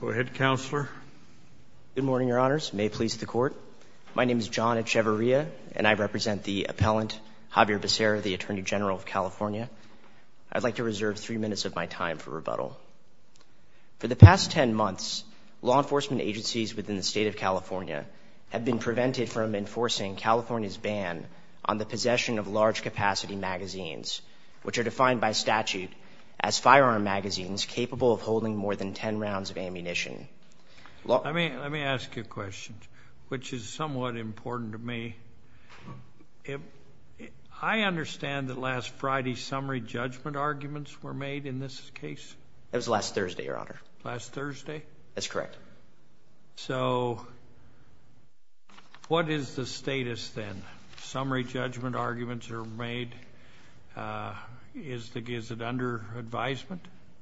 Go ahead, Counselor. Good morning, Your Honors. May it please the Court. My name is John Echevarria, and I represent the appellant, Xavier Becerra, the Attorney General of California. I'd like to reserve three minutes of my time for rebuttal. For the past ten months, law enforcement agencies within the state of California have been prevented from enforcing California's ban on the possession of large-capacity magazines, which are defined by statute as firearm magazines capable of holding more than ten rounds of ammunition. Let me ask you a question, which is somewhat important to me. I understand that last Friday summary judgment arguments were made in this case? It was last Thursday, Your Honor. Last Thursday? That's correct. So what is the status then? Summary judgment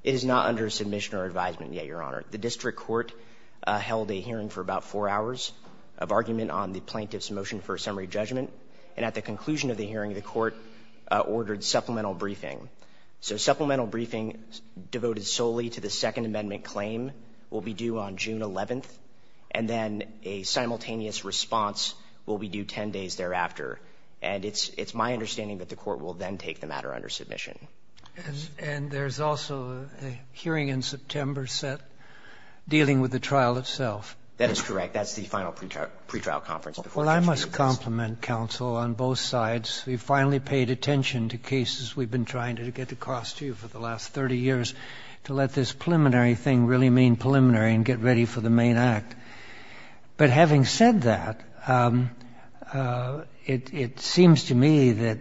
is not under submission or advisement yet, Your Honor. The district court held a hearing for about four hours of argument on the plaintiff's motion for a summary judgment, and at the conclusion of the hearing, the Court ordered supplemental briefing. So supplemental briefing devoted solely to the Second Amendment claim will be due on June 11th, and then a simultaneous response will be due ten days thereafter. And it's my understanding that the Court will then take the matter under submission. And there's also a hearing in September set dealing with the trial itself. That is correct. That's the final pretrial conference before the judge gives it. Well, I must compliment counsel on both sides. We've finally paid attention to cases we've been trying to get across to you for the last 30 years to let this preliminary thing really mean preliminary and get ready for the main act. But having said that, it seems to me that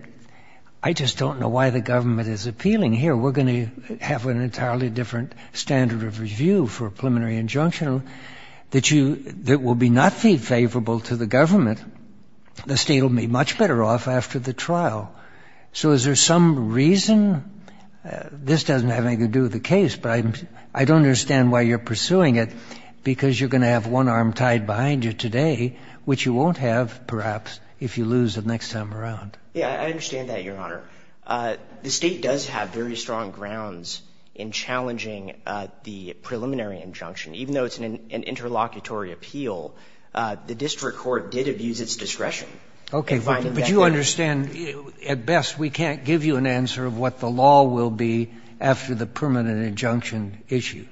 I just don't know why the government is appealing here. We're going to have an entirely different standard of review for a preliminary injunction that you — that will be not favorable to the government. The state will be much better off after the trial. So is there some reason — this doesn't have anything to do with the case, but I don't understand why you're pursuing it, because you're going to have that one arm tied behind you today, which you won't have, perhaps, if you lose it next time around. Yeah. I understand that, Your Honor. The state does have very strong grounds in challenging the preliminary injunction. Even though it's an interlocutory appeal, the district court did abuse its discretion in finding that — Okay. But you understand, at best, we can't give you an answer of what the law will be after the permanent injunction issue.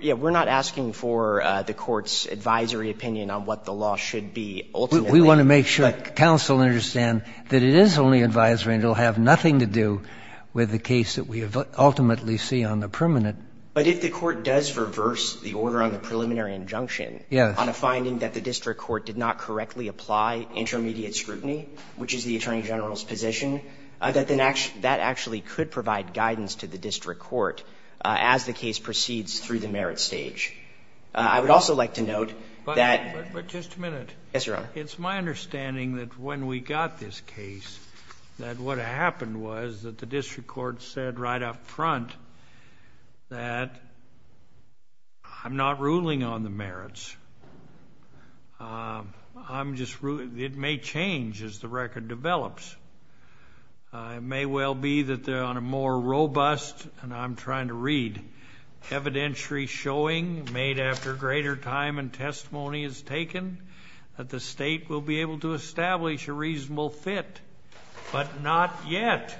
Yeah. We're not asking for the Court's advisory opinion on what the law should be ultimately. We want to make sure counsel understand that it is only advisory and it will have nothing to do with the case that we ultimately see on the permanent. But if the Court does reverse the order on the preliminary injunction on a finding that the district court did not correctly apply intermediate scrutiny, which is the Attorney General's position, that then actually — that actually could provide guidance to the district court as the case proceeds through the merit stage. I would also like to note that — But just a minute. Yes, Your Honor. It's my understanding that when we got this case, that what happened was that the district court said right up front that I'm not ruling on the merits. I'm just — it may change as the record develops. It may well be that they're on a more robust — and I'm trying to read — evidentiary showing made after greater time and testimony is taken that the state will be able to establish a reasonable fit, but not yet.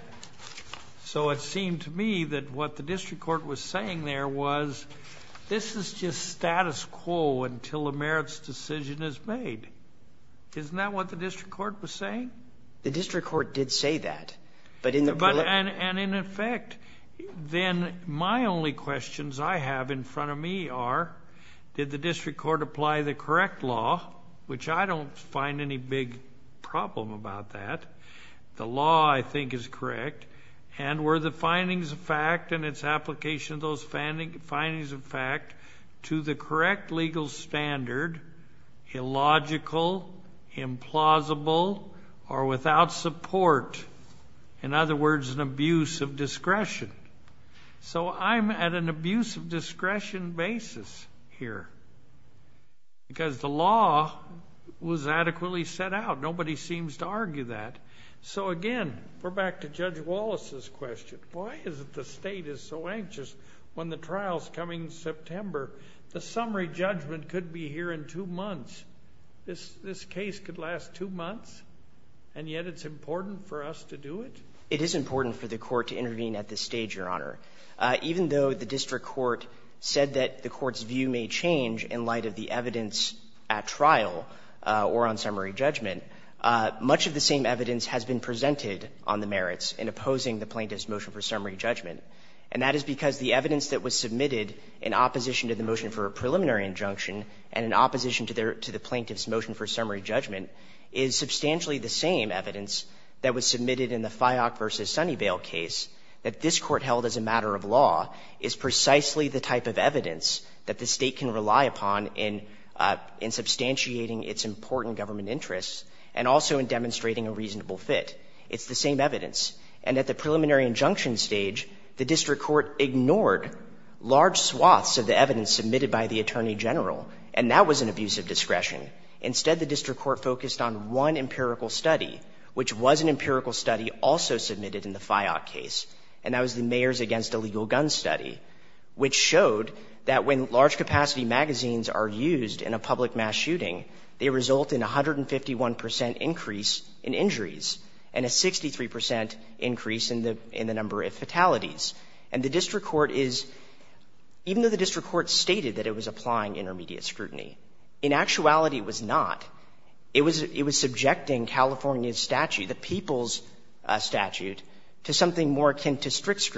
So it seemed to me that what the district court was saying there was this is just what the district court was saying? The district court did say that, but in the preliminary — And in effect, then my only questions I have in front of me are, did the district court apply the correct law, which I don't find any big problem about that. The law, I think, is correct. And were the findings of fact and its application of those findings of fact correct legal standard, illogical, implausible, or without support? In other words, an abuse of discretion. So I'm at an abuse of discretion basis here. Because the law was adequately set out. Nobody seems to argue that. So again, we're back to Judge Wallace's question. Why is it the state is so anxious when the trial is coming in September? The summary judgment could be here in two months. This case could last two months, and yet it's important for us to do it? It is important for the court to intervene at this stage, Your Honor. Even though the district court said that the court's view may change in light of the evidence at trial or on summary judgment, much of the same evidence has been presented on the merits in opposing the plaintiff's motion for summary judgment. And that is because the evidence that was submitted in opposition to the motion for a preliminary injunction and in opposition to the plaintiff's motion for summary judgment is substantially the same evidence that was submitted in the FIOC v. Sunnyvale case, that this Court held as a matter of law is precisely the type of evidence that the State can rely upon in substantiating its important government interests and also in demonstrating a reasonable fit. It's the same evidence. And at the preliminary injunction stage, the district court ignored large swaths of the evidence submitted by the Attorney General, and that was an abusive discretion. Instead, the district court focused on one empirical study, which was an empirical study also submitted in the FIOC case, and that was the Mayors Against Illegal Guns study, which showed that when large-capacity magazines are used in a public mass shooting, they result in a 151 percent increase in injuries and a 63 percent increase in the number of fatalities. And the district court is, even though the district court stated that it was applying intermediate scrutiny, in actuality it was not. It was subjecting California's statute, the people's statute, to something more akin to strict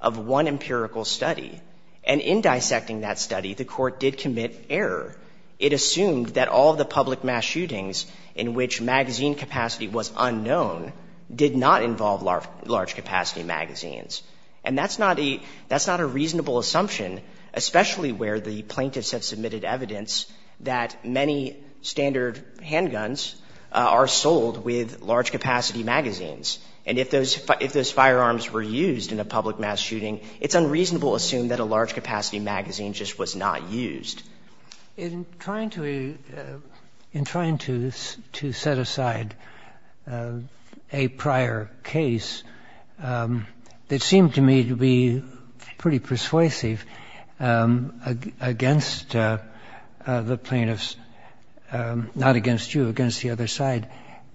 of one empirical study. And in dissecting that study, the Court did commit error. It assumed that all the public mass shootings in which magazine capacity was unknown did not involve large-capacity magazines. And that's not a reasonable assumption, especially where the plaintiffs have submitted evidence that many standard handguns are sold with large-capacity magazines. And if those firearms were used in a public mass shooting, it's unreasonable to assume that a large-capacity magazine just was not used. In trying to set aside a prior case, it seemed to me to be pretty persuasive against the plaintiffs, not against you, against the other side.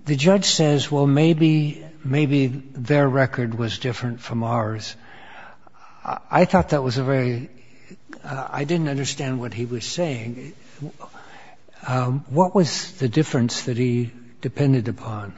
The judge says, well, maybe their record was different from ours. I thought that was a very — I didn't understand what he was saying. What was the difference that he depended upon?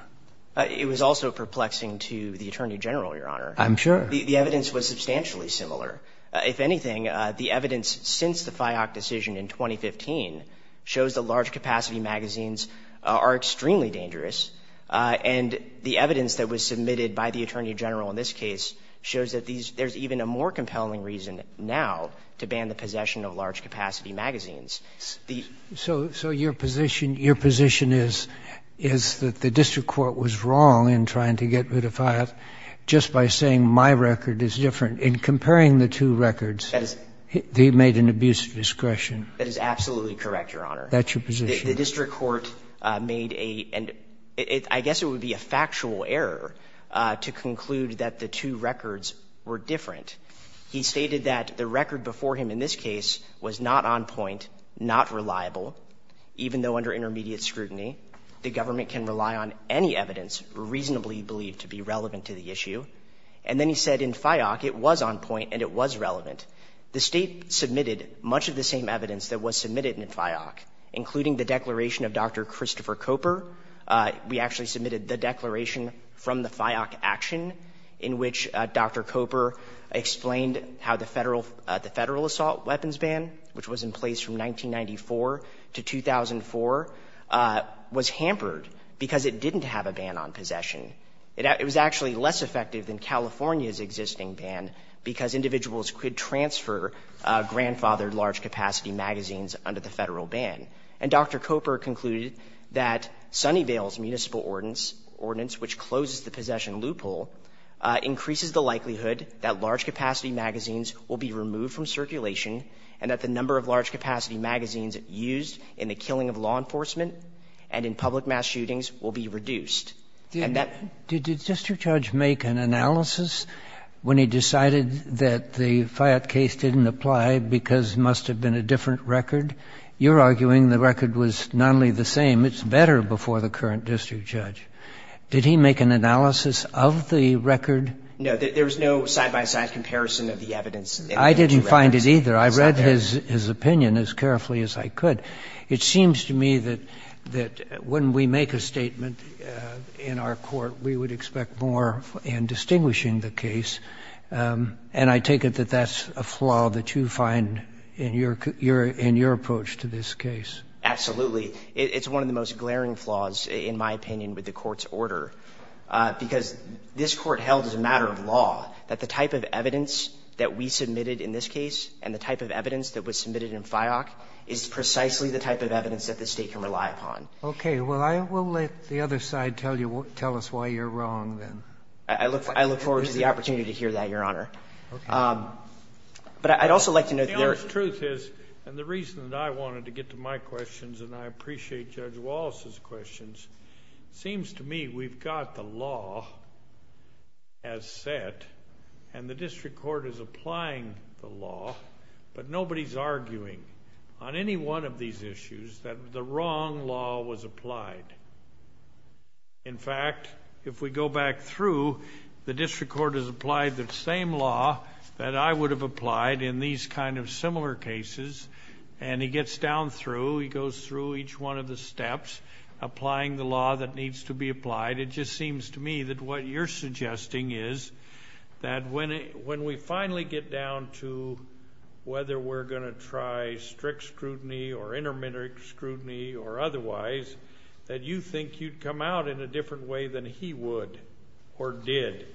It was also perplexing to the Attorney General, Your Honor. I'm sure. The evidence was substantially similar. If anything, the evidence since the FIOC decision in 2015 shows that large-capacity magazines are extremely dangerous. And the evidence that was submitted by the Attorney General in this case shows that there's even a more compelling reason now to ban the possession of large-capacity magazines. So your position is that the district court was wrong in trying to get rid of FIOC just by saying my record is different. In comparing the two records, they made an abuse of discretion. That is absolutely correct, Your Honor. That's your position. The district court made a — I guess it would be a factual error to conclude that the two records were different. He stated that the record before him in this case was not on point, not reliable, even though under intermediate scrutiny the government can rely on any evidence reasonably believed to be relevant to the issue. And then he said in FIOC it was on point and it was relevant. The State submitted much of the same evidence that was submitted in FIOC, including the declaration of Dr. Christopher Coper. We actually submitted the declaration from the FIOC action in which Dr. Coper explained how the Federal — the Federal assault weapons ban, which was in place from 1994 to 2004, was hampered because it didn't have a ban on possession. It was actually less effective than California's existing ban because individuals could transfer grandfathered large-capacity magazines under the Federal ban. And Dr. Coper concluded that Sunnyvale's municipal ordinance, which closes the possession loophole, increases the likelihood that large-capacity magazines will be removed from circulation and that the number of large-capacity magazines used in the killing of law enforcement and in public mass shootings will be reduced. And that — And did the district judge make an analysis when he decided that the FIOT case didn't apply because it must have been a different record? You're arguing the record was not only the same, it's better before the current district judge. Did he make an analysis of the record? No. There was no side-by-side comparison of the evidence. I didn't find it either. I read his opinion as carefully as I could. It seems to me that when we make a statement in our court, we would expect more in distinguishing the case. And I take it that that's a flaw that you find in your — in your approach to this case. Absolutely. It's one of the most glaring flaws, in my opinion, with the Court's order, because this Court held as a matter of law that the type of evidence that we submitted in this case and the type of evidence that was submitted in FIOC is precisely the type of evidence that this State can rely upon. Okay. Well, I will let the other side tell you — tell us why you're wrong, then. I look forward to the opportunity to hear that, Your Honor. But I'd also like to know — The honest truth is, and the reason that I wanted to get to my questions, and I appreciate Judge Wallace's questions, it seems to me we've got the law as set, and the district court is applying the law, but nobody's arguing on any one of these issues that the wrong law was applied. In fact, if we go back through, the district court has applied the same law that I would have applied in these kind of similar cases, and he gets down through — he goes through each one of the steps, applying the law that needs to be applied. It just seems to me that what you're suggesting is that when we finally get down to whether we're going to try strict scrutiny or intermediate scrutiny or otherwise, that you think you'd come out in a different way than he would or did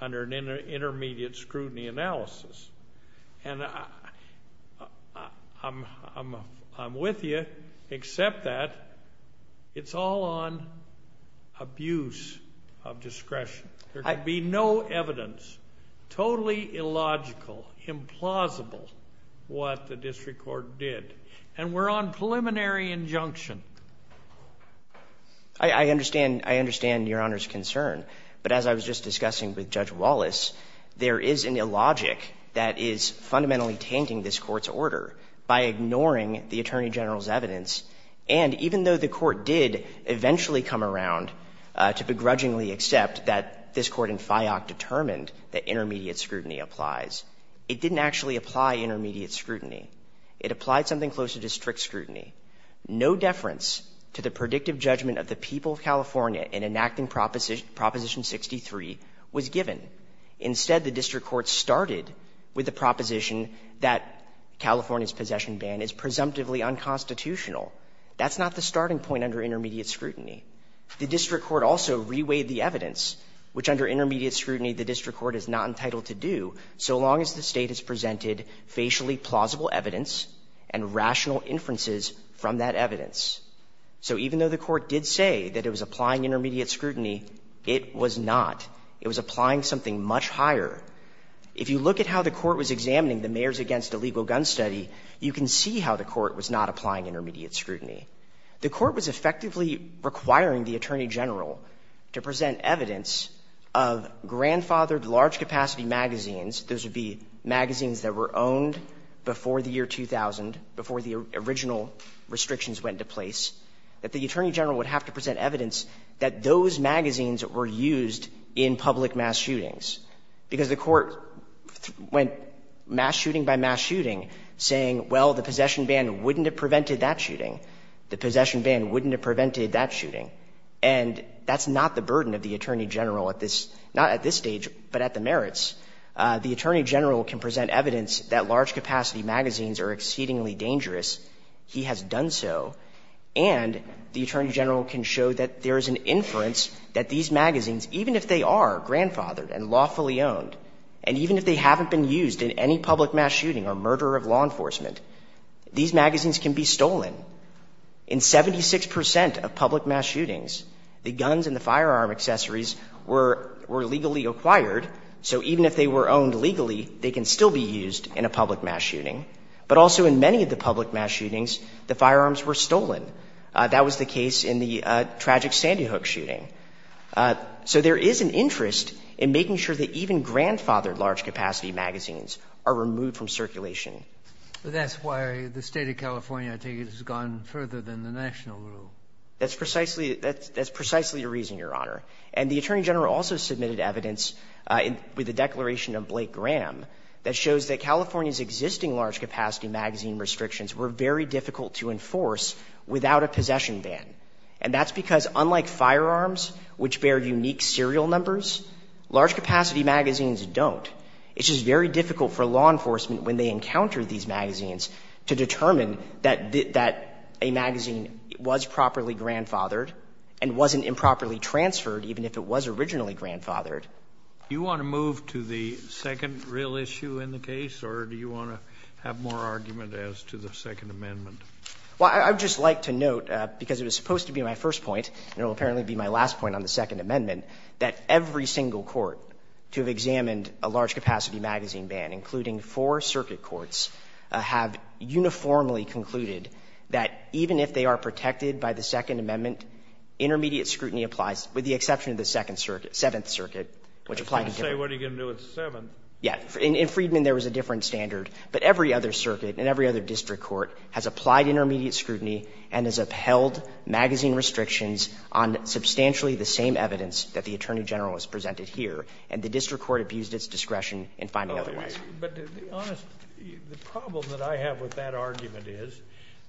under an intermediate scrutiny analysis. And I'm with you, except that it's all on abuse of discretion. There could be no evidence, totally illogical, implausible, what the district court did. And we're on preliminary injunction. I understand Your Honor's concern, but as I was just discussing with Judge Wallace, there is an illogic that is fundamentally tainting this Court's order by ignoring the Attorney General's evidence. And even though the Court did eventually come around to begrudgingly accept that this Court in FIOC determined that intermediate scrutiny applies, it didn't actually apply intermediate scrutiny. It applied something closer to strict scrutiny. No deference to the predictive judgment of the people of California in enacting Proposition 63 was given. Instead, the district court started with the proposition that California's possession ban is presumptively unconstitutional. That's not the starting point under intermediate scrutiny. The district court also reweighed the evidence, which under intermediate scrutiny the district court is not entitled to do, so long as the State has presented facially plausible evidence and rational inferences from that evidence. So even though the Court did say that it was applying intermediate scrutiny, it was not. It was applying something much higher. If you look at how the Court was examining the Mayors Against Illegal Gun Study, you can see how the Court was not applying intermediate scrutiny. The Court was effectively requiring the Attorney General to present evidence of grandfathered large-capacity magazines. Those would be magazines that were owned before the year 2000, before the original restrictions went into place, that the Attorney General would have to present evidence that those magazines were used in public mass shootings, because the Court went mass shooting by mass shooting, saying, well, the possession ban wouldn't have prevented that shooting. The possession ban wouldn't have prevented that shooting. And that's not the burden of the Attorney General at this stage, but at the merits. The Attorney General can present evidence that large-capacity magazines are exceedingly dangerous. He has done so. And the Attorney General can show that there is an inference that these magazines, even if they are grandfathered and lawfully owned, and even if they haven't been used in any public mass shooting or murder of law enforcement, these magazines can be stolen. In 76 percent of public mass shootings, the guns and the firearm accessories were legally acquired. So even if they were owned legally, they can still be used in a public mass shooting. But also in many of the public mass shootings, the firearms were stolen. That was the case in the tragic Sandy Hook shooting. So there is an interest in making sure that even grandfathered large-capacity magazines are removed from circulation. But that's why the State of California, I take it, has gone further than the national rule. That's precisely the reason, Your Honor. And the Attorney General also submitted evidence with the declaration of Blake Graham that shows that California's existing large-capacity magazine restrictions were very difficult to enforce without a possession ban. And that's because unlike firearms, which bear unique serial numbers, large-capacity magazines don't. It's just very difficult for law enforcement, when they encounter these magazines, to determine that a magazine was properly grandfathered and wasn't improperly transferred, even if it was originally grandfathered. Do you want to move to the second real issue in the case, or do you want to have more argument as to the Second Amendment? Well, I would just like to note, because it was supposed to be my first point, and it will apparently be my last point on the Second Amendment, that every single court to have examined a large-capacity magazine ban, including four circuit courts, have uniformly concluded that even if they are protected by the Second Amendment, intermediate scrutiny applies, with the exception of the Second Circuit – Seventh Circuit, which applied to Gifford. I was going to say, what are you going to do with Seventh? Yeah. In Friedman, there was a different standard. But every other circuit and every other district court has applied intermediate scrutiny and has upheld magazine restrictions on substantially the same evidence that the Attorney General has presented here, and the district court abused its discretion in finding otherwise. But the problem that I have with that argument is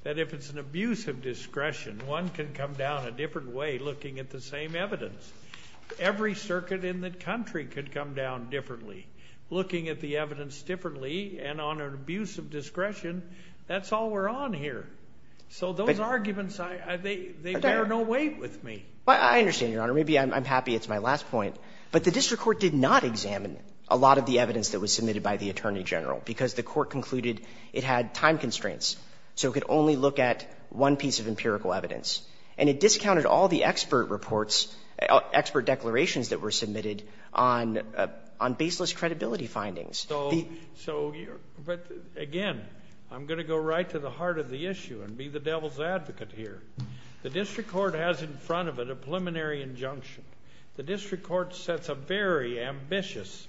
that if it's an abuse of discretion, one can come down a different way looking at the same evidence. Every circuit in the country could come down differently, looking at the evidence differently, and on an abuse of discretion, that's all we're on here. So those arguments, they bear no weight with me. I understand, Your Honor. Maybe I'm happy it's my last point. But the district court did not examine a lot of the evidence that was submitted by the Attorney General, because the court concluded it had time constraints. So it could only look at one piece of empirical evidence. And it discounted all the expert reports, expert declarations that were submitted on baseless credibility findings. So, but again, I'm going to go right to the heart of the issue and be the devil's advocate here. The district court has in front of it a preliminary injunction. The district court sets a very ambitious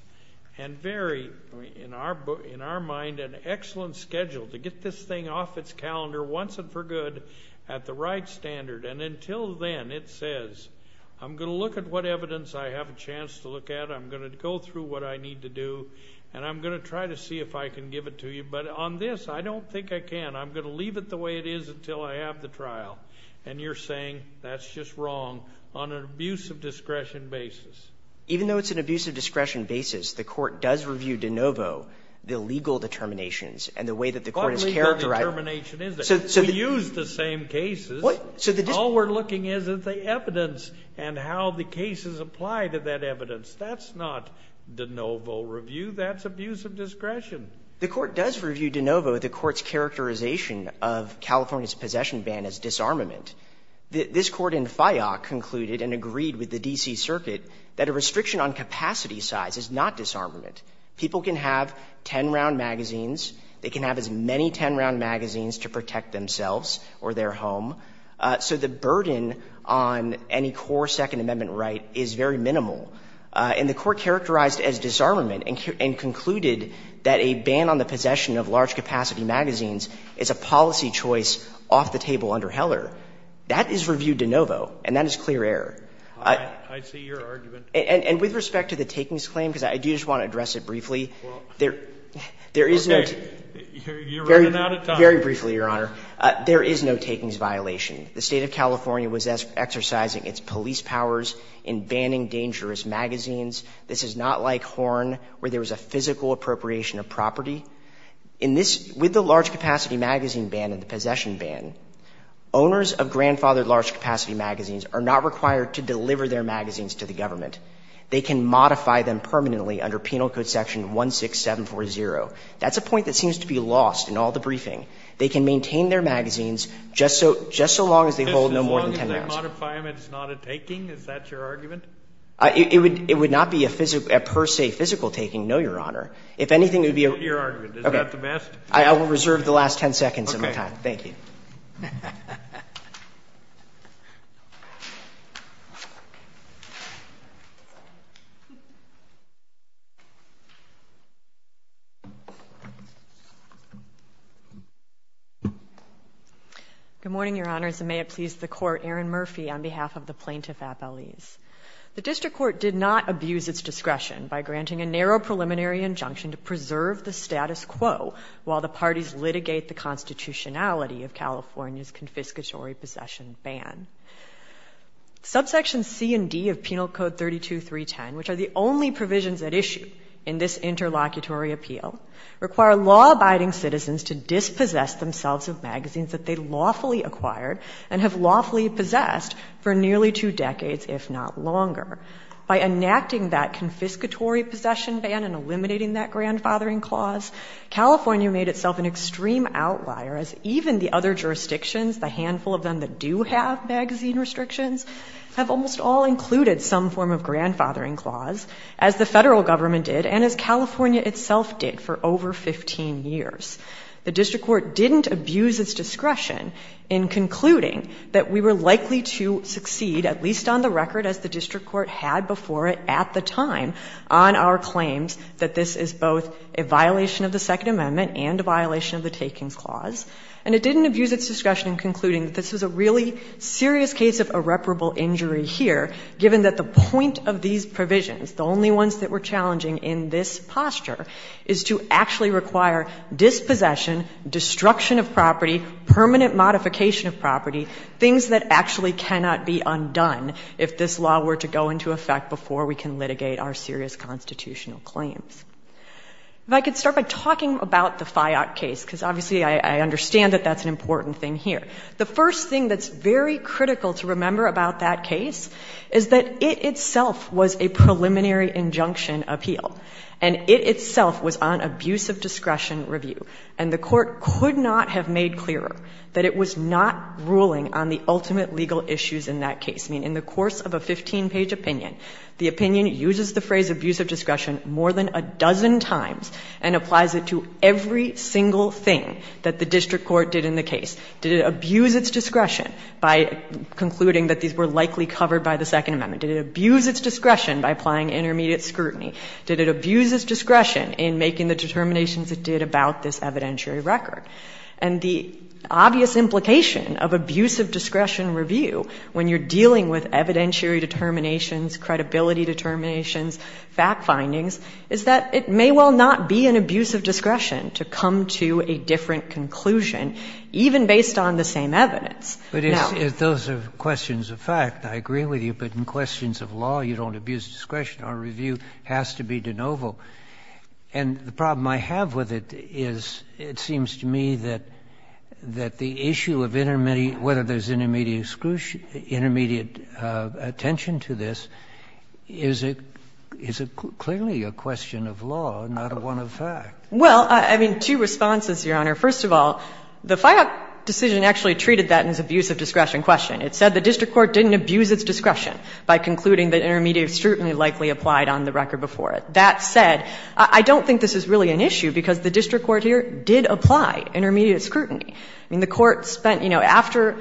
and very, in our mind, an excellent schedule to get this thing off its calendar once and for good at the right standard. And until then, it says, I'm going to look at what evidence I have a chance to look at. I'm going to go through what I need to do. And I'm going to try to see if I can give it to you. But on this, I don't think I can. I'm going to leave it the way it is until I have the trial. And you're saying that's just wrong. On an abuse of discretion basis. Even though it's an abuse of discretion basis, the court does review de novo the legal determinations and the way that the court is characterized. What legal determination is there? We use the same cases. What? So the dis- All we're looking is at the evidence and how the cases apply to that evidence. That's not de novo review, that's abuse of discretion. The court does review de novo the court's characterization of California's possession ban as disarmament. This Court in FIOC concluded and agreed with the D.C. Circuit that a restriction on capacity size is not disarmament. People can have ten-round magazines. They can have as many ten-round magazines to protect themselves or their home. So the burden on any core Second Amendment right is very minimal. And the court characterized as disarmament and concluded that a ban on the possession of large-capacity magazines is a policy choice off the table under Heller. That is review de novo, and that is clear error. I see your argument. And with respect to the takings claim, because I do just want to address it briefly, there is no- Okay. You're running out of time. Very briefly, Your Honor. There is no takings violation. The State of California was exercising its police powers in banning dangerous magazines. This is not like Horn, where there was a physical appropriation of property. In this – with the large-capacity magazine ban and the possession ban, owners of grandfathered large-capacity magazines are not required to deliver their magazines to the government. They can modify them permanently under Penal Code Section 16740. That's a point that seems to be lost in all the briefing. They can maintain their magazines just so – just so long as they hold no more than ten rounds. As long as the modifiament is not a taking? Is that your argument? It would not be a per se physical taking, no, Your Honor. If anything, it would be a- Your argument. Is that the best? I will reserve the last ten seconds of my time. Thank you. Good morning, Your Honors, and may it please the Court, Erin Murphy, on behalf of the plaintiff at Belize. The district court did not abuse its discretion by granting a narrow preliminary injunction to preserve the status quo while the parties litigate the constitutionality of California's confiscatory possession ban. Subsections C and D of Penal Code 32310, which are the only provisions at issue in this interlocutory appeal, require law-abiding citizens to dispossess themselves of magazines that they lawfully acquired and have lawfully possessed for nearly two decades, if not longer. By enacting that confiscatory possession ban and eliminating that grandfathering clause, California made itself an extreme outlier, as even the other jurisdictions, the handful of them that do have magazine restrictions, have almost all included some form of grandfathering clause, as the Federal Government did and as California itself did for over 15 years. The district court didn't abuse its discretion in concluding that we were likely to succeed, at least on the record as the district court had before it at the time, on our claims that this is both a violation of the Second Amendment and a violation of the takings clause. And it didn't abuse its discretion in concluding that this was a really serious case of irreparable injury here, given that the point of these provisions, the only ones that were challenging in this posture, is to actually require dispossession, destruction of property, permanent modification of property, things that actually cannot be undone if this law were to go into effect before we can litigate our serious constitutional claims. If I could start by talking about the FIOC case, because obviously I understand that that's an important thing here. The first thing that's very critical to remember about that case is that it itself was a preliminary injunction appeal, and it itself was on abuse of discretion review. And the Court could not have made clearer that it was not ruling on the ultimate legal issues in that case. I mean, in the course of a 15-page opinion, the opinion uses the phrase abuse of discretion more than a dozen times and applies it to every single thing that the district court did in the case. Did it abuse its discretion by concluding that these were likely covered by the Second Amendment? Did it abuse its discretion by applying intermediate scrutiny? Did it abuse its discretion in making the determinations it did about this evidentiary record? And the obvious implication of abuse of discretion review when you're dealing with evidentiary determinations, credibility determinations, fact findings, is that it may well not be an abuse of discretion to come to a different conclusion, even based on the same evidence. Now… But if those are questions of fact, I agree with you, but in questions of law, you don't know if abuse of discretion or review has to be de novo. And the problem I have with it is it seems to me that the issue of whether there's intermediate attention to this is clearly a question of law, not one of fact. Well, I mean, two responses, Your Honor. First of all, the FIOC decision actually treated that as abuse of discretion question. It said the district court didn't abuse its discretion by concluding that intermediate scrutiny likely applied on the record before it. That said, I don't think this is really an issue, because the district court here did apply intermediate scrutiny. I mean, the Court spent, you know, after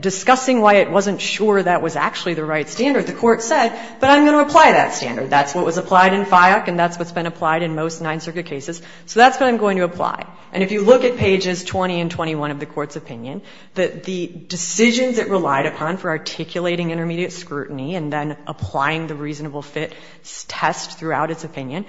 discussing why it wasn't sure that was actually the right standard, the Court said, but I'm going to apply that standard. That's what was applied in FIOC and that's what's been applied in most Ninth Circuit cases. So that's what I'm going to apply. And if you look at pages 20 and 21 of the Court's opinion, the decisions it relied upon for articulating intermediate scrutiny and then applying the reasonable fit test throughout its opinion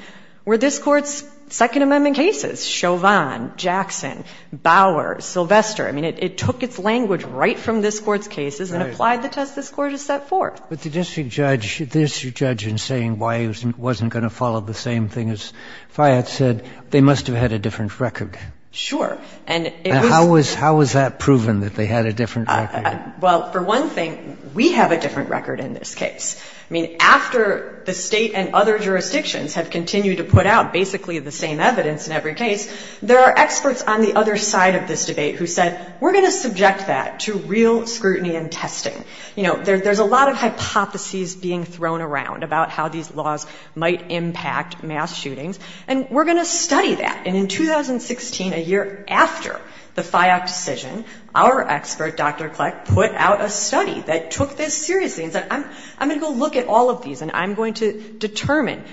were this Court's Second Amendment cases, Chauvin, Jackson, Bower, Sylvester. I mean, it took its language right from this Court's cases and applied the test this Court has set forth. But the district judge, the district judge in saying why it wasn't going to follow the same thing as Fayette said, they must have had a different record. Sure. And it was How was that proven, that they had a different record? Well, for one thing, we have a different record in this case. I mean, after the State and other jurisdictions have continued to put out basically the same evidence in every case, there are experts on the other side of this debate who said, we're going to subject that to real scrutiny and testing. You know, there's a lot of hypotheses being thrown around about how these laws might impact mass shootings, and we're going to study that. And in 2016, a year after the FIOC decision, our expert, Dr. Kleck, put out a study that took this seriously and said, I'm going to go look at all of these and I'm going to determine,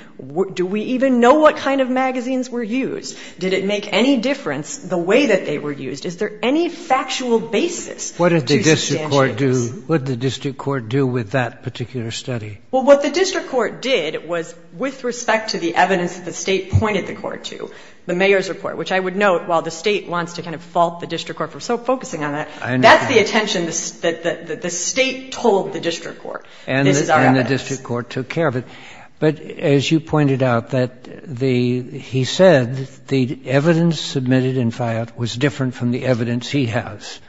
do we even know what kind of magazines were used? Did it make any difference the way that they were used? Is there any factual basis to substantiate this? What did the district court do with that particular study? Well, what the district court did was, with respect to the evidence that the State pointed the court to, the mayor's report, which I would note, while the State wants to kind of fault the district court for so focusing on that, that's the attention that the State told the district court, this is our evidence. And the district court took care of it. But as you pointed out, that the — he said the evidence submitted in FIOC was different from the evidence he has.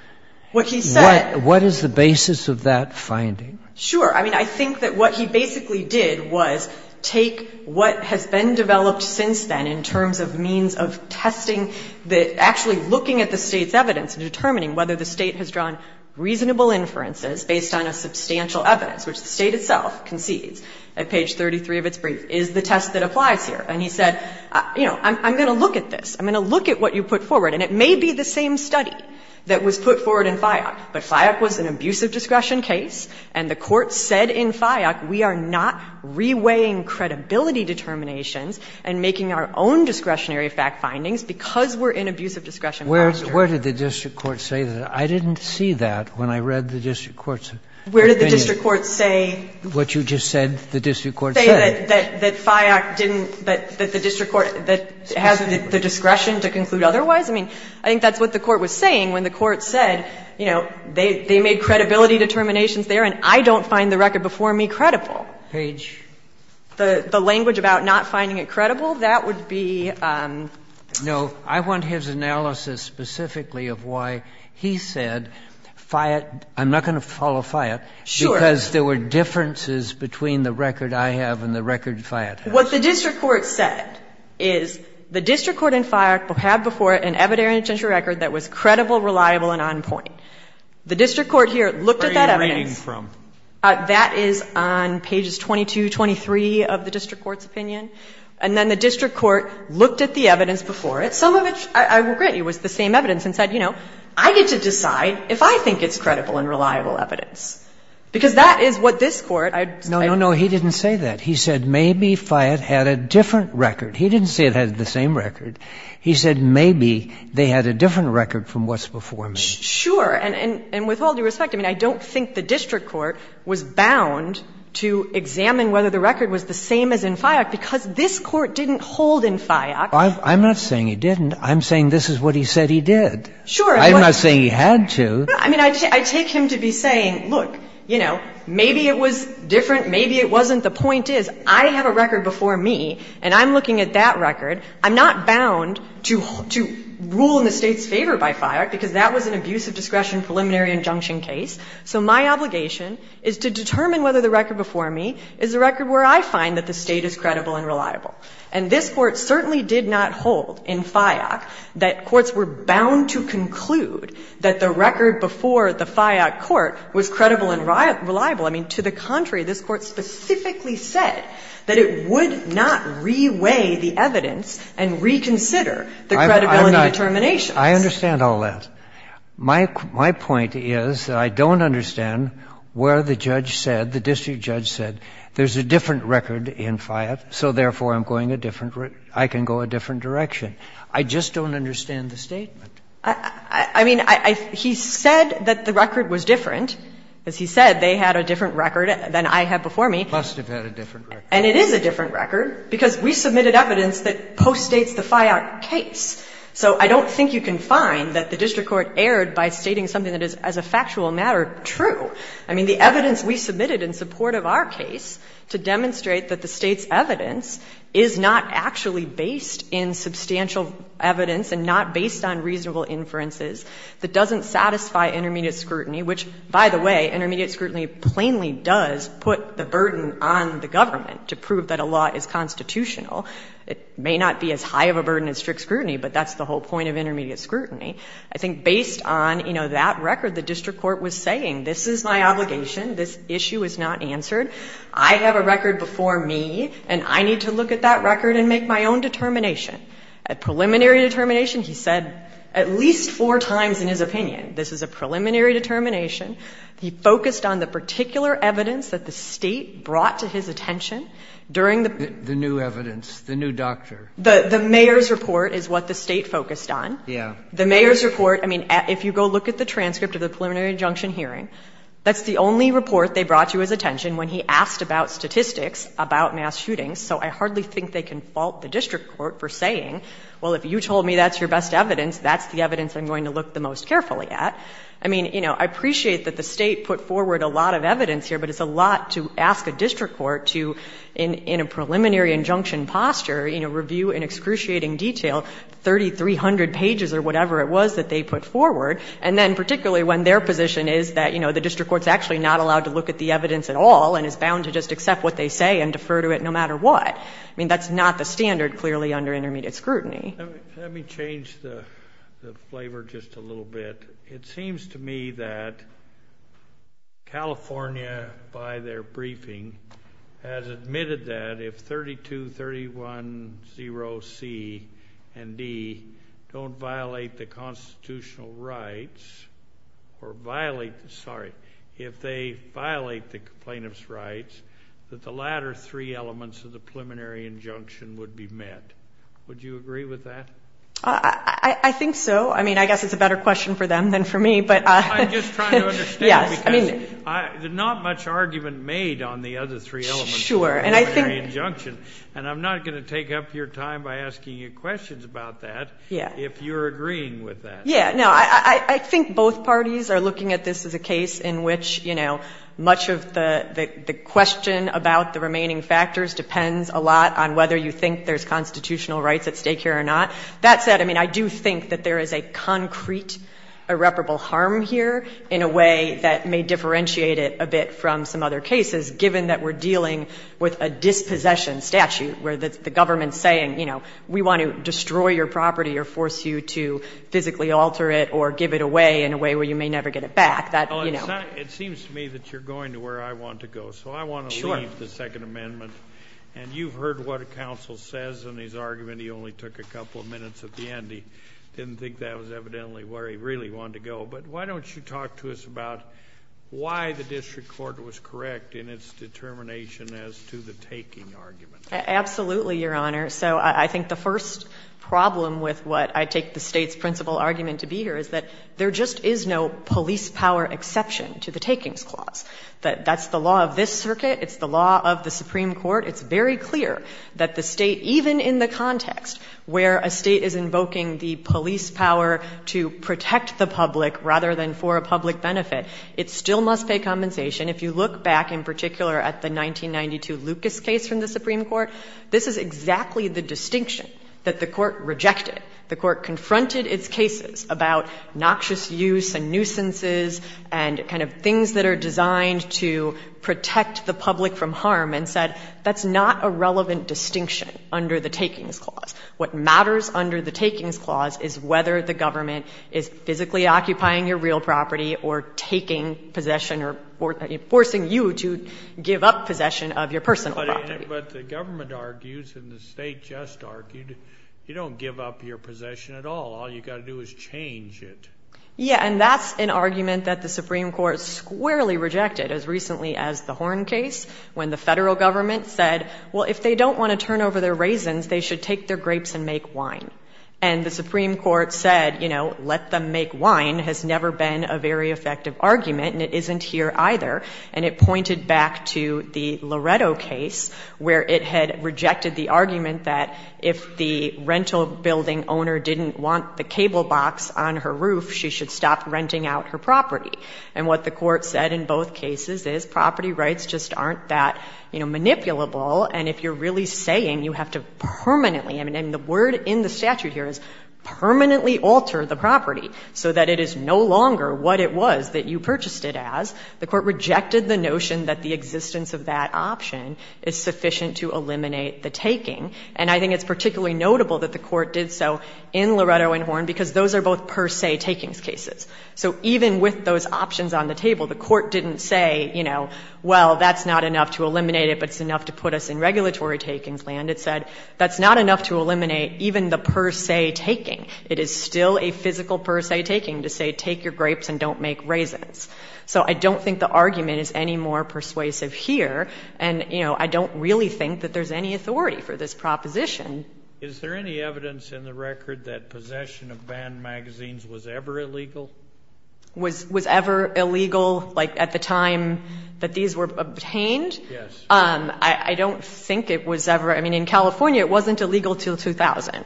What he said — What is the basis of that finding? Sure. I mean, I think that what he basically did was take what has been developed since then in terms of means of testing the — actually looking at the State's evidence and determining whether the State has drawn reasonable inferences based on a substantial evidence, which the State itself concedes at page 33 of its brief, is the test that applies here. And he said, you know, I'm going to look at this. I'm going to look at what you put forward. And it may be the same study that was put forward in FIOC, but FIOC was an abusive discretion case, and the Court said in FIOC, we are not reweighing credibility determinations and making our own discretionary fact findings because we're in abusive discretion posture. Where did the district court say that? I didn't see that when I read the district court's opinion. Where did the district court say? What you just said the district court said. That FIOC didn't — that the district court — that it has the discretion to conclude otherwise? I mean, I think that's what the court was saying when the court said, you know, they made credibility determinations there, and I don't find the record before me credible. Page. The language about not finding it credible, that would be — No. I want his analysis specifically of why he said FIOC — I'm not going to follow FIOC. Sure. Because there were differences between the record I have and the record FIOC has. What the district court said is the district court in FIOC had before it an evidentiary and essential record that was credible, reliable, and on point. The district court here looked at that evidence. Where are you reading from? That is on pages 22, 23 of the district court's opinion. And then the district court looked at the evidence before it, some of which I will agree was the same evidence, and said, you know, I get to decide if I think it's credible and reliable evidence. Because that is what this court — No, no, no. He didn't say that. He said maybe FIOC had a different record. He didn't say it had the same record. He said maybe they had a different record from what's before me. Sure. And with all due respect, I mean, I don't think the district court was bound to examine whether the record was the same as in FIOC, because this court didn't hold in FIOC. I'm not saying he didn't. I'm saying this is what he said he did. Sure. I'm not saying he had to. I mean, I take him to be saying, look, you know, maybe it was different, maybe it wasn't. The point is, I have a record before me, and I'm looking at that record. I'm not bound to rule in the State's favor by FIOC, because that was an abuse of discretion preliminary injunction case. So my obligation is to determine whether the record before me is the record where I find that the State is credible and reliable. And this court certainly did not hold in FIOC that courts were bound to conclude that the record before the FIOC court was credible and reliable. I mean, to the contrary, this court specifically said that it would not reweigh the evidence and reconsider the credibility determinations. I understand all that. My point is that I don't understand where the judge said, the district judge said, there's a different record in FIOC, so therefore I'm going a different ‑‑ I can go a different direction. I just don't understand the statement. I mean, he said that the record was different. As he said, they had a different record than I had before me. Must have had a different record. And it is a different record, because we submitted evidence that postdates the FIOC case. So I don't think you can find that the district court erred by stating something that is, as a factual matter, true. I mean, the evidence we submitted in support of our case to demonstrate that the State's evidence is not actually based in substantial evidence and not based on reasonable inferences that doesn't satisfy intermediate scrutiny, which, by the way, intermediate scrutiny plainly does put the burden on the government to prove that a law is constitutional. It may not be as high of a burden as strict scrutiny, but that's the whole point of intermediate scrutiny. I think based on, you know, that record, the district court was saying, this is my obligation. This issue is not answered. I have a record before me, and I need to look at that record and make my own determination. A preliminary determination, he said at least four times in his opinion, this is a preliminary determination. He focused on the particular evidence that the State brought to his attention during the ---- The new evidence, the new doctor. The mayor's report is what the State focused on. Yeah. The mayor's report, I mean, if you go look at the transcript of the preliminary injunction hearing, that's the only report they brought to his attention when he asked about statistics about mass shootings. So I hardly think they can fault the district court for saying, well, if you told me that's your best evidence, that's the evidence I'm going to look the most carefully at. I mean, you know, I appreciate that the State put forward a lot of evidence here, but it's a lot to ask a district court to, in a preliminary injunction posture, you know, review in excruciating detail 3,300 pages or whatever it was that they put forward. And then particularly when their position is that, you know, the district court's actually not allowed to look at the evidence at all and is bound to just accept what they say and defer to it no matter what. I mean, that's not the standard clearly under intermediate scrutiny. Let me change the flavor just a little bit. It seems to me that California, by their briefing, has admitted that if 32310C and D don't violate the constitutional rights, or violate, sorry, if they violate the plaintiff's rights, that the latter three elements of the preliminary injunction would be met. Would you agree with that? I think so. I mean, I guess it's a better question for them than for me. I'm just trying to understand, because there's not much argument made on the other three elements of the preliminary injunction, and I'm not going to take up your time by asking you questions about that if you're agreeing with that. Yeah, no, I think both parties are looking at this as a case in which, you know, much of the question about the remaining factors depends a lot on whether you think there's constitutional rights at stake here or not. That said, I mean, I do think that there is a concrete irreparable harm here in a way that may differentiate it a bit from some other cases, given that we're dealing with a dispossession statute where the government's saying, you know, we want to destroy your property or force you to physically alter it or give it away in a way where you may never get it back. It seems to me that you're going to where I want to go, so I want to leave the Second Amendment. Sure. And you've heard what a counsel says in his argument. He only took a couple of minutes at the end. He didn't think that was evidently where he really wanted to go. But why don't you talk to us about why the district court was correct in its determination as to the taking argument? Absolutely, Your Honor. So I think the first problem with what I take the State's principal argument to be here is that there just is no police power exception to the takings clause. That's the law of this circuit. It's the law of the Supreme Court. It's very clear that the State, even in the context where a State is invoking the police power to protect the public rather than for a public benefit, it still must pay compensation. If you look back in particular at the 1992 Lucas case from the Supreme Court, this is exactly the distinction that the Court rejected. The Court confronted its cases about noxious use and nuisances and kind of things that are designed to protect the public from harm and said that's not a relevant distinction under the takings clause. What matters under the takings clause is whether the government is physically occupying your real property or taking possession or forcing you to give up possession of your personal property. But the government argues, and the State just argued, you don't give up your possession at all. All you've got to do is change it. Yeah, and that's an argument that the Supreme Court squarely rejected as recently as the Horn case when the federal government said, well, if they don't want to turn over their raisins, they should take their grapes and make wine. And the Supreme Court said, you know, let them make wine has never been a very effective argument and it isn't here either. And it pointed back to the Loretto case where it had rejected the argument that if the rental building owner didn't want the cable box on her roof, she should stop renting out her property. And what the court said in both cases is property rights just aren't that, you know, manipulable and if you're really saying you have to permanently, I mean, the word in the statute here is permanently alter the property so that it is no longer what it was that you purchased it as. The court rejected the notion that the existence of that option is sufficient to eliminate the taking. And I think it's particularly notable that the court did so in Loretto and Horn because those are both per se takings cases. So even with those options on the table, the court didn't say, you know, well, that's not enough to eliminate it but it's enough to put us in regulatory takings land. It said that's not enough to eliminate even the per se taking. It is still a physical per se taking to say take your grapes and don't make raisins. So I don't think the argument is any more persuasive here and, you know, I don't really think that there's any authority for this proposition. Is there any evidence in the record that possession of banned magazines was ever illegal? Was ever illegal, like, at the time that these were obtained? Yes. I don't think it was ever, I mean, in California it wasn't illegal until 2000.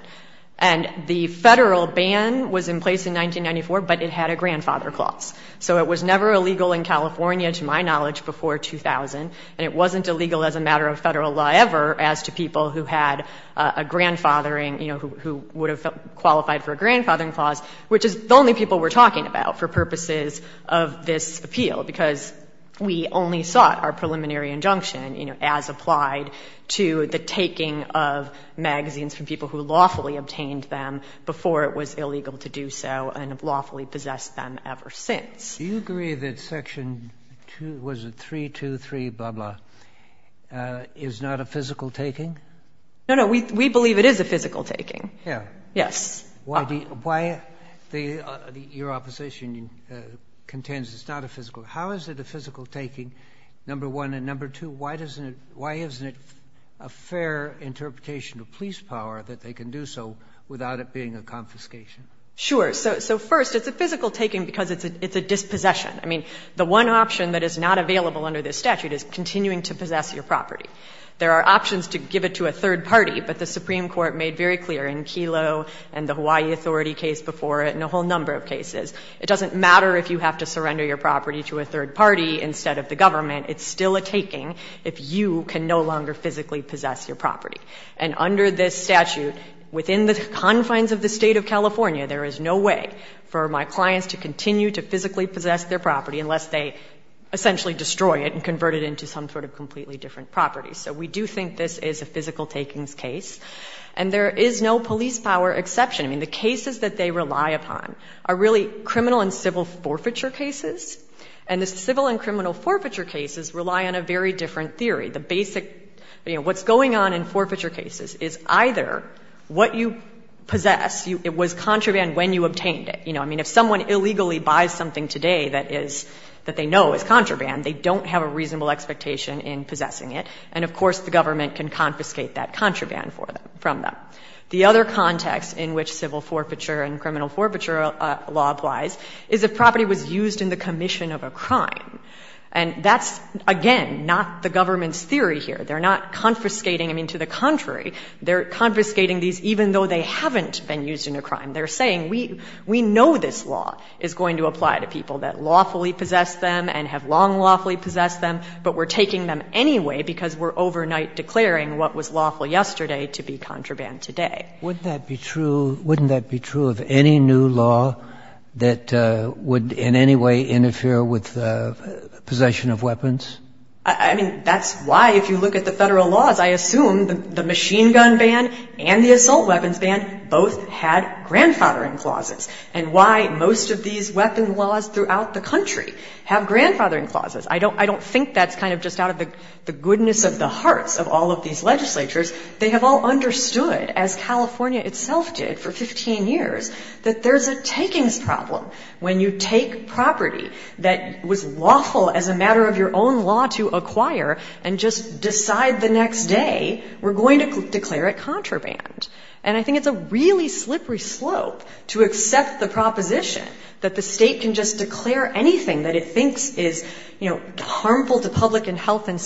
And the federal ban was in place in 1994 but it had a grandfather clause. So it was never illegal in California, to my knowledge, before 2000 and it wasn't illegal as a matter of Federal law ever as to people who had a grandfathering, you know, who would have qualified for a grandfathering clause, which is the only people we're talking about for purposes of this appeal, because we only sought our preliminary injunction, you know, as applied to the taking of magazines from people who lawfully obtained them before it was illegal to do so and have lawfully possessed them ever since. Do you agree that Section 2, was it 323 blah blah, is not a physical taking? No, no, we believe it is a physical taking. Yeah. Yes. Why do you, why the, your opposition contends it's not a physical, how is it a physical taking, number one, and number two, why doesn't it, why isn't it a fair interpretation of police power that they can do so without it being a confiscation? Sure. So, so first, it's a physical taking because it's a, it's a dispossession. I mean, the one option that is not available under this statute is continuing to possess your property. There are options to give it to a third party, but the Supreme Court made very clear in Kelo and the Hawaii Authority case before it and a whole number of cases, it doesn't matter if you have to surrender your property to a third party instead of the government, it's still a taking if you can no longer physically possess your property. And under this statute, within the confines of the state of California, there is no way for my clients to continue to physically possess their property unless they essentially destroy it and convert it into some sort of completely different property. So we do think this is a physical takings case. And there is no police power exception. I mean, the cases that they rely upon are really criminal and civil forfeiture cases. And the civil and criminal forfeiture cases rely on a very different theory. The basic, you know, what's going on in forfeiture cases is either what you possess, it was contraband when you obtained it. You know, I mean, if someone illegally buys something today that is, that they know is contraband, they don't have a reasonable expectation in possessing it. And of course, the government can confiscate that contraband for them, from them. The other context in which civil forfeiture and criminal forfeiture law applies is if property was used in the commission of a crime. And that's, again, not the government's theory here. They're not confiscating. I mean, to the contrary, they're confiscating these even though they haven't been used in a crime. They're saying, we know this law is going to apply to people that lawfully possess them and have long lawfully possessed them, but we're taking them anyway because we're overnight declaring what was lawful yesterday to be contraband today. Wouldn't that be true, wouldn't that be true of any new law that would in any way interfere with the possession of weapons? I mean, that's why if you look at the Federal laws, I assume the machine gun ban and the assault weapons ban both had grandfathering clauses, and why most of these weapon laws throughout the country have grandfathering clauses. I don't think that's kind of just out of the goodness of the hearts of all of these legislatures, they have all understood, as California itself did for 15 years, that there's a takings problem. When you take property that was lawful as a matter of your own law to acquire and just decide the next day, we're going to declare it contraband. And I think it's a really slippery slope to accept the proposition that the state can just declare anything that it thinks is, you know, harmful to public and health and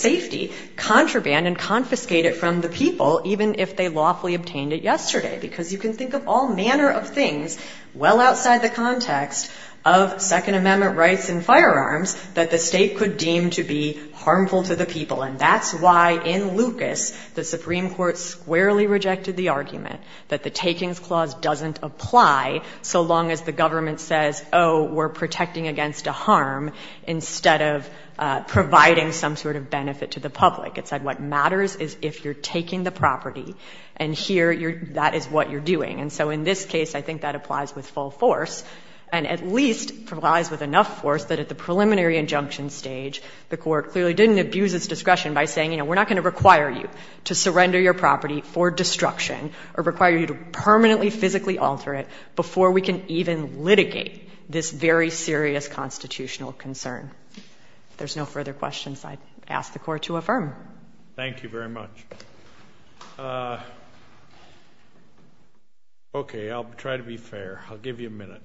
from the people, even if they lawfully obtained it yesterday. Because you can think of all manner of things, well outside the context of Second Amendment rights and firearms, that the state could deem to be harmful to the people. And that's why in Lucas, the Supreme Court squarely rejected the argument that the takings clause doesn't apply so long as the government says, oh, we're protecting against a harm instead of providing some sort of benefit to the public. It said what matters is if you're taking the property and here that is what you're doing. And so in this case, I think that applies with full force and at least applies with enough force that at the preliminary injunction stage, the Court clearly didn't abuse its discretion by saying, you know, we're not going to require you to surrender your property for destruction or require you to permanently physically alter it before we can even litigate this very serious constitutional concern. If there's no further questions, I ask the Court to affirm. Thank you very much. Okay, I'll try to be fair. I'll give you a minute.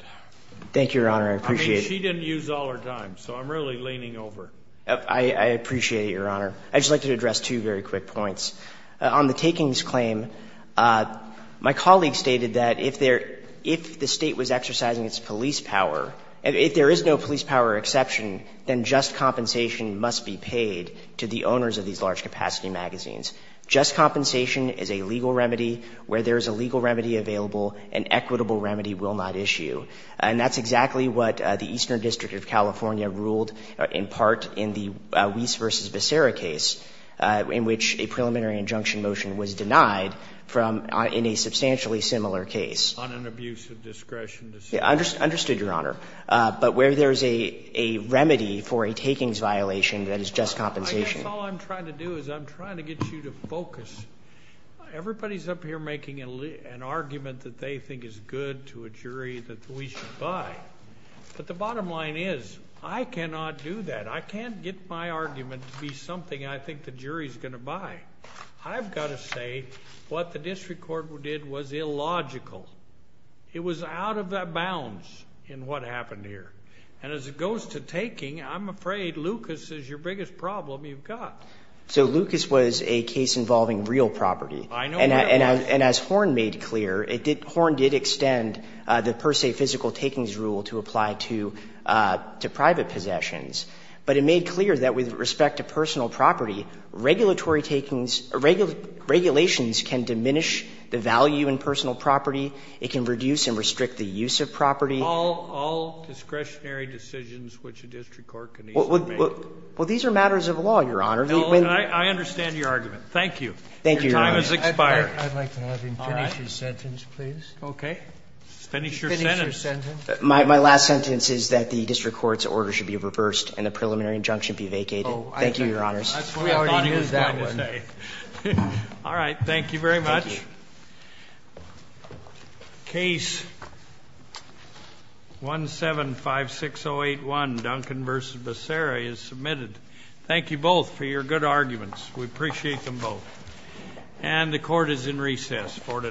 Thank you, Your Honor. I appreciate it. I mean, she didn't use all her time, so I'm really leaning over. I appreciate it, Your Honor. I'd just like to address two very quick points. On the takings claim, my colleague stated that if the state was exercising its police power, if there is no police power exception, then just compensation must be paid to the owners of these large capacity magazines. Just compensation is a legal remedy. Where there is a legal remedy available, an equitable remedy will not issue. And that's exactly what the Eastern District of California ruled in part in the Weiss v. Becerra case, in which a preliminary injunction motion was denied from in a substantially similar case. On an abuse of discretion. Understood, Your Honor. But where there is a remedy for a takings violation, that is just compensation. I guess all I'm trying to do is I'm trying to get you to focus. Everybody's up here making an argument that they think is good to a jury that we should buy. But the bottom line is, I cannot do that. I can't get my argument to be something I think the jury's going to buy. I've got to say what the District Court did was illogical. It was out of bounds in what happened here. And as it goes to taking, I'm afraid Lucas is your biggest problem you've got. So Lucas was a case involving real property. I know that. And as Horne made clear, Horne did extend the per se physical takings rule to apply to private possessions. But it made clear that with respect to personal property, regulatory takings, regulations can diminish the value in personal property. It can reduce and restrict the use of property. All discretionary decisions which a district court can easily make. Well, these are matters of law, Your Honor. I understand your argument. Thank you. Thank you, Your Honor. Your time has expired. I'd like to have him finish his sentence, please. Okay. Finish your sentence. Finish your sentence. My last sentence is that the district court's order should be reversed and the preliminary injunction be vacated. Thank you, Your Honors. That's what I thought he was going to say. All right. Thank you very much. Thank you. Case 1756081, Duncan v. Becerra is submitted. Thank you both for your good arguments. We appreciate them both. And the court is in recess for today.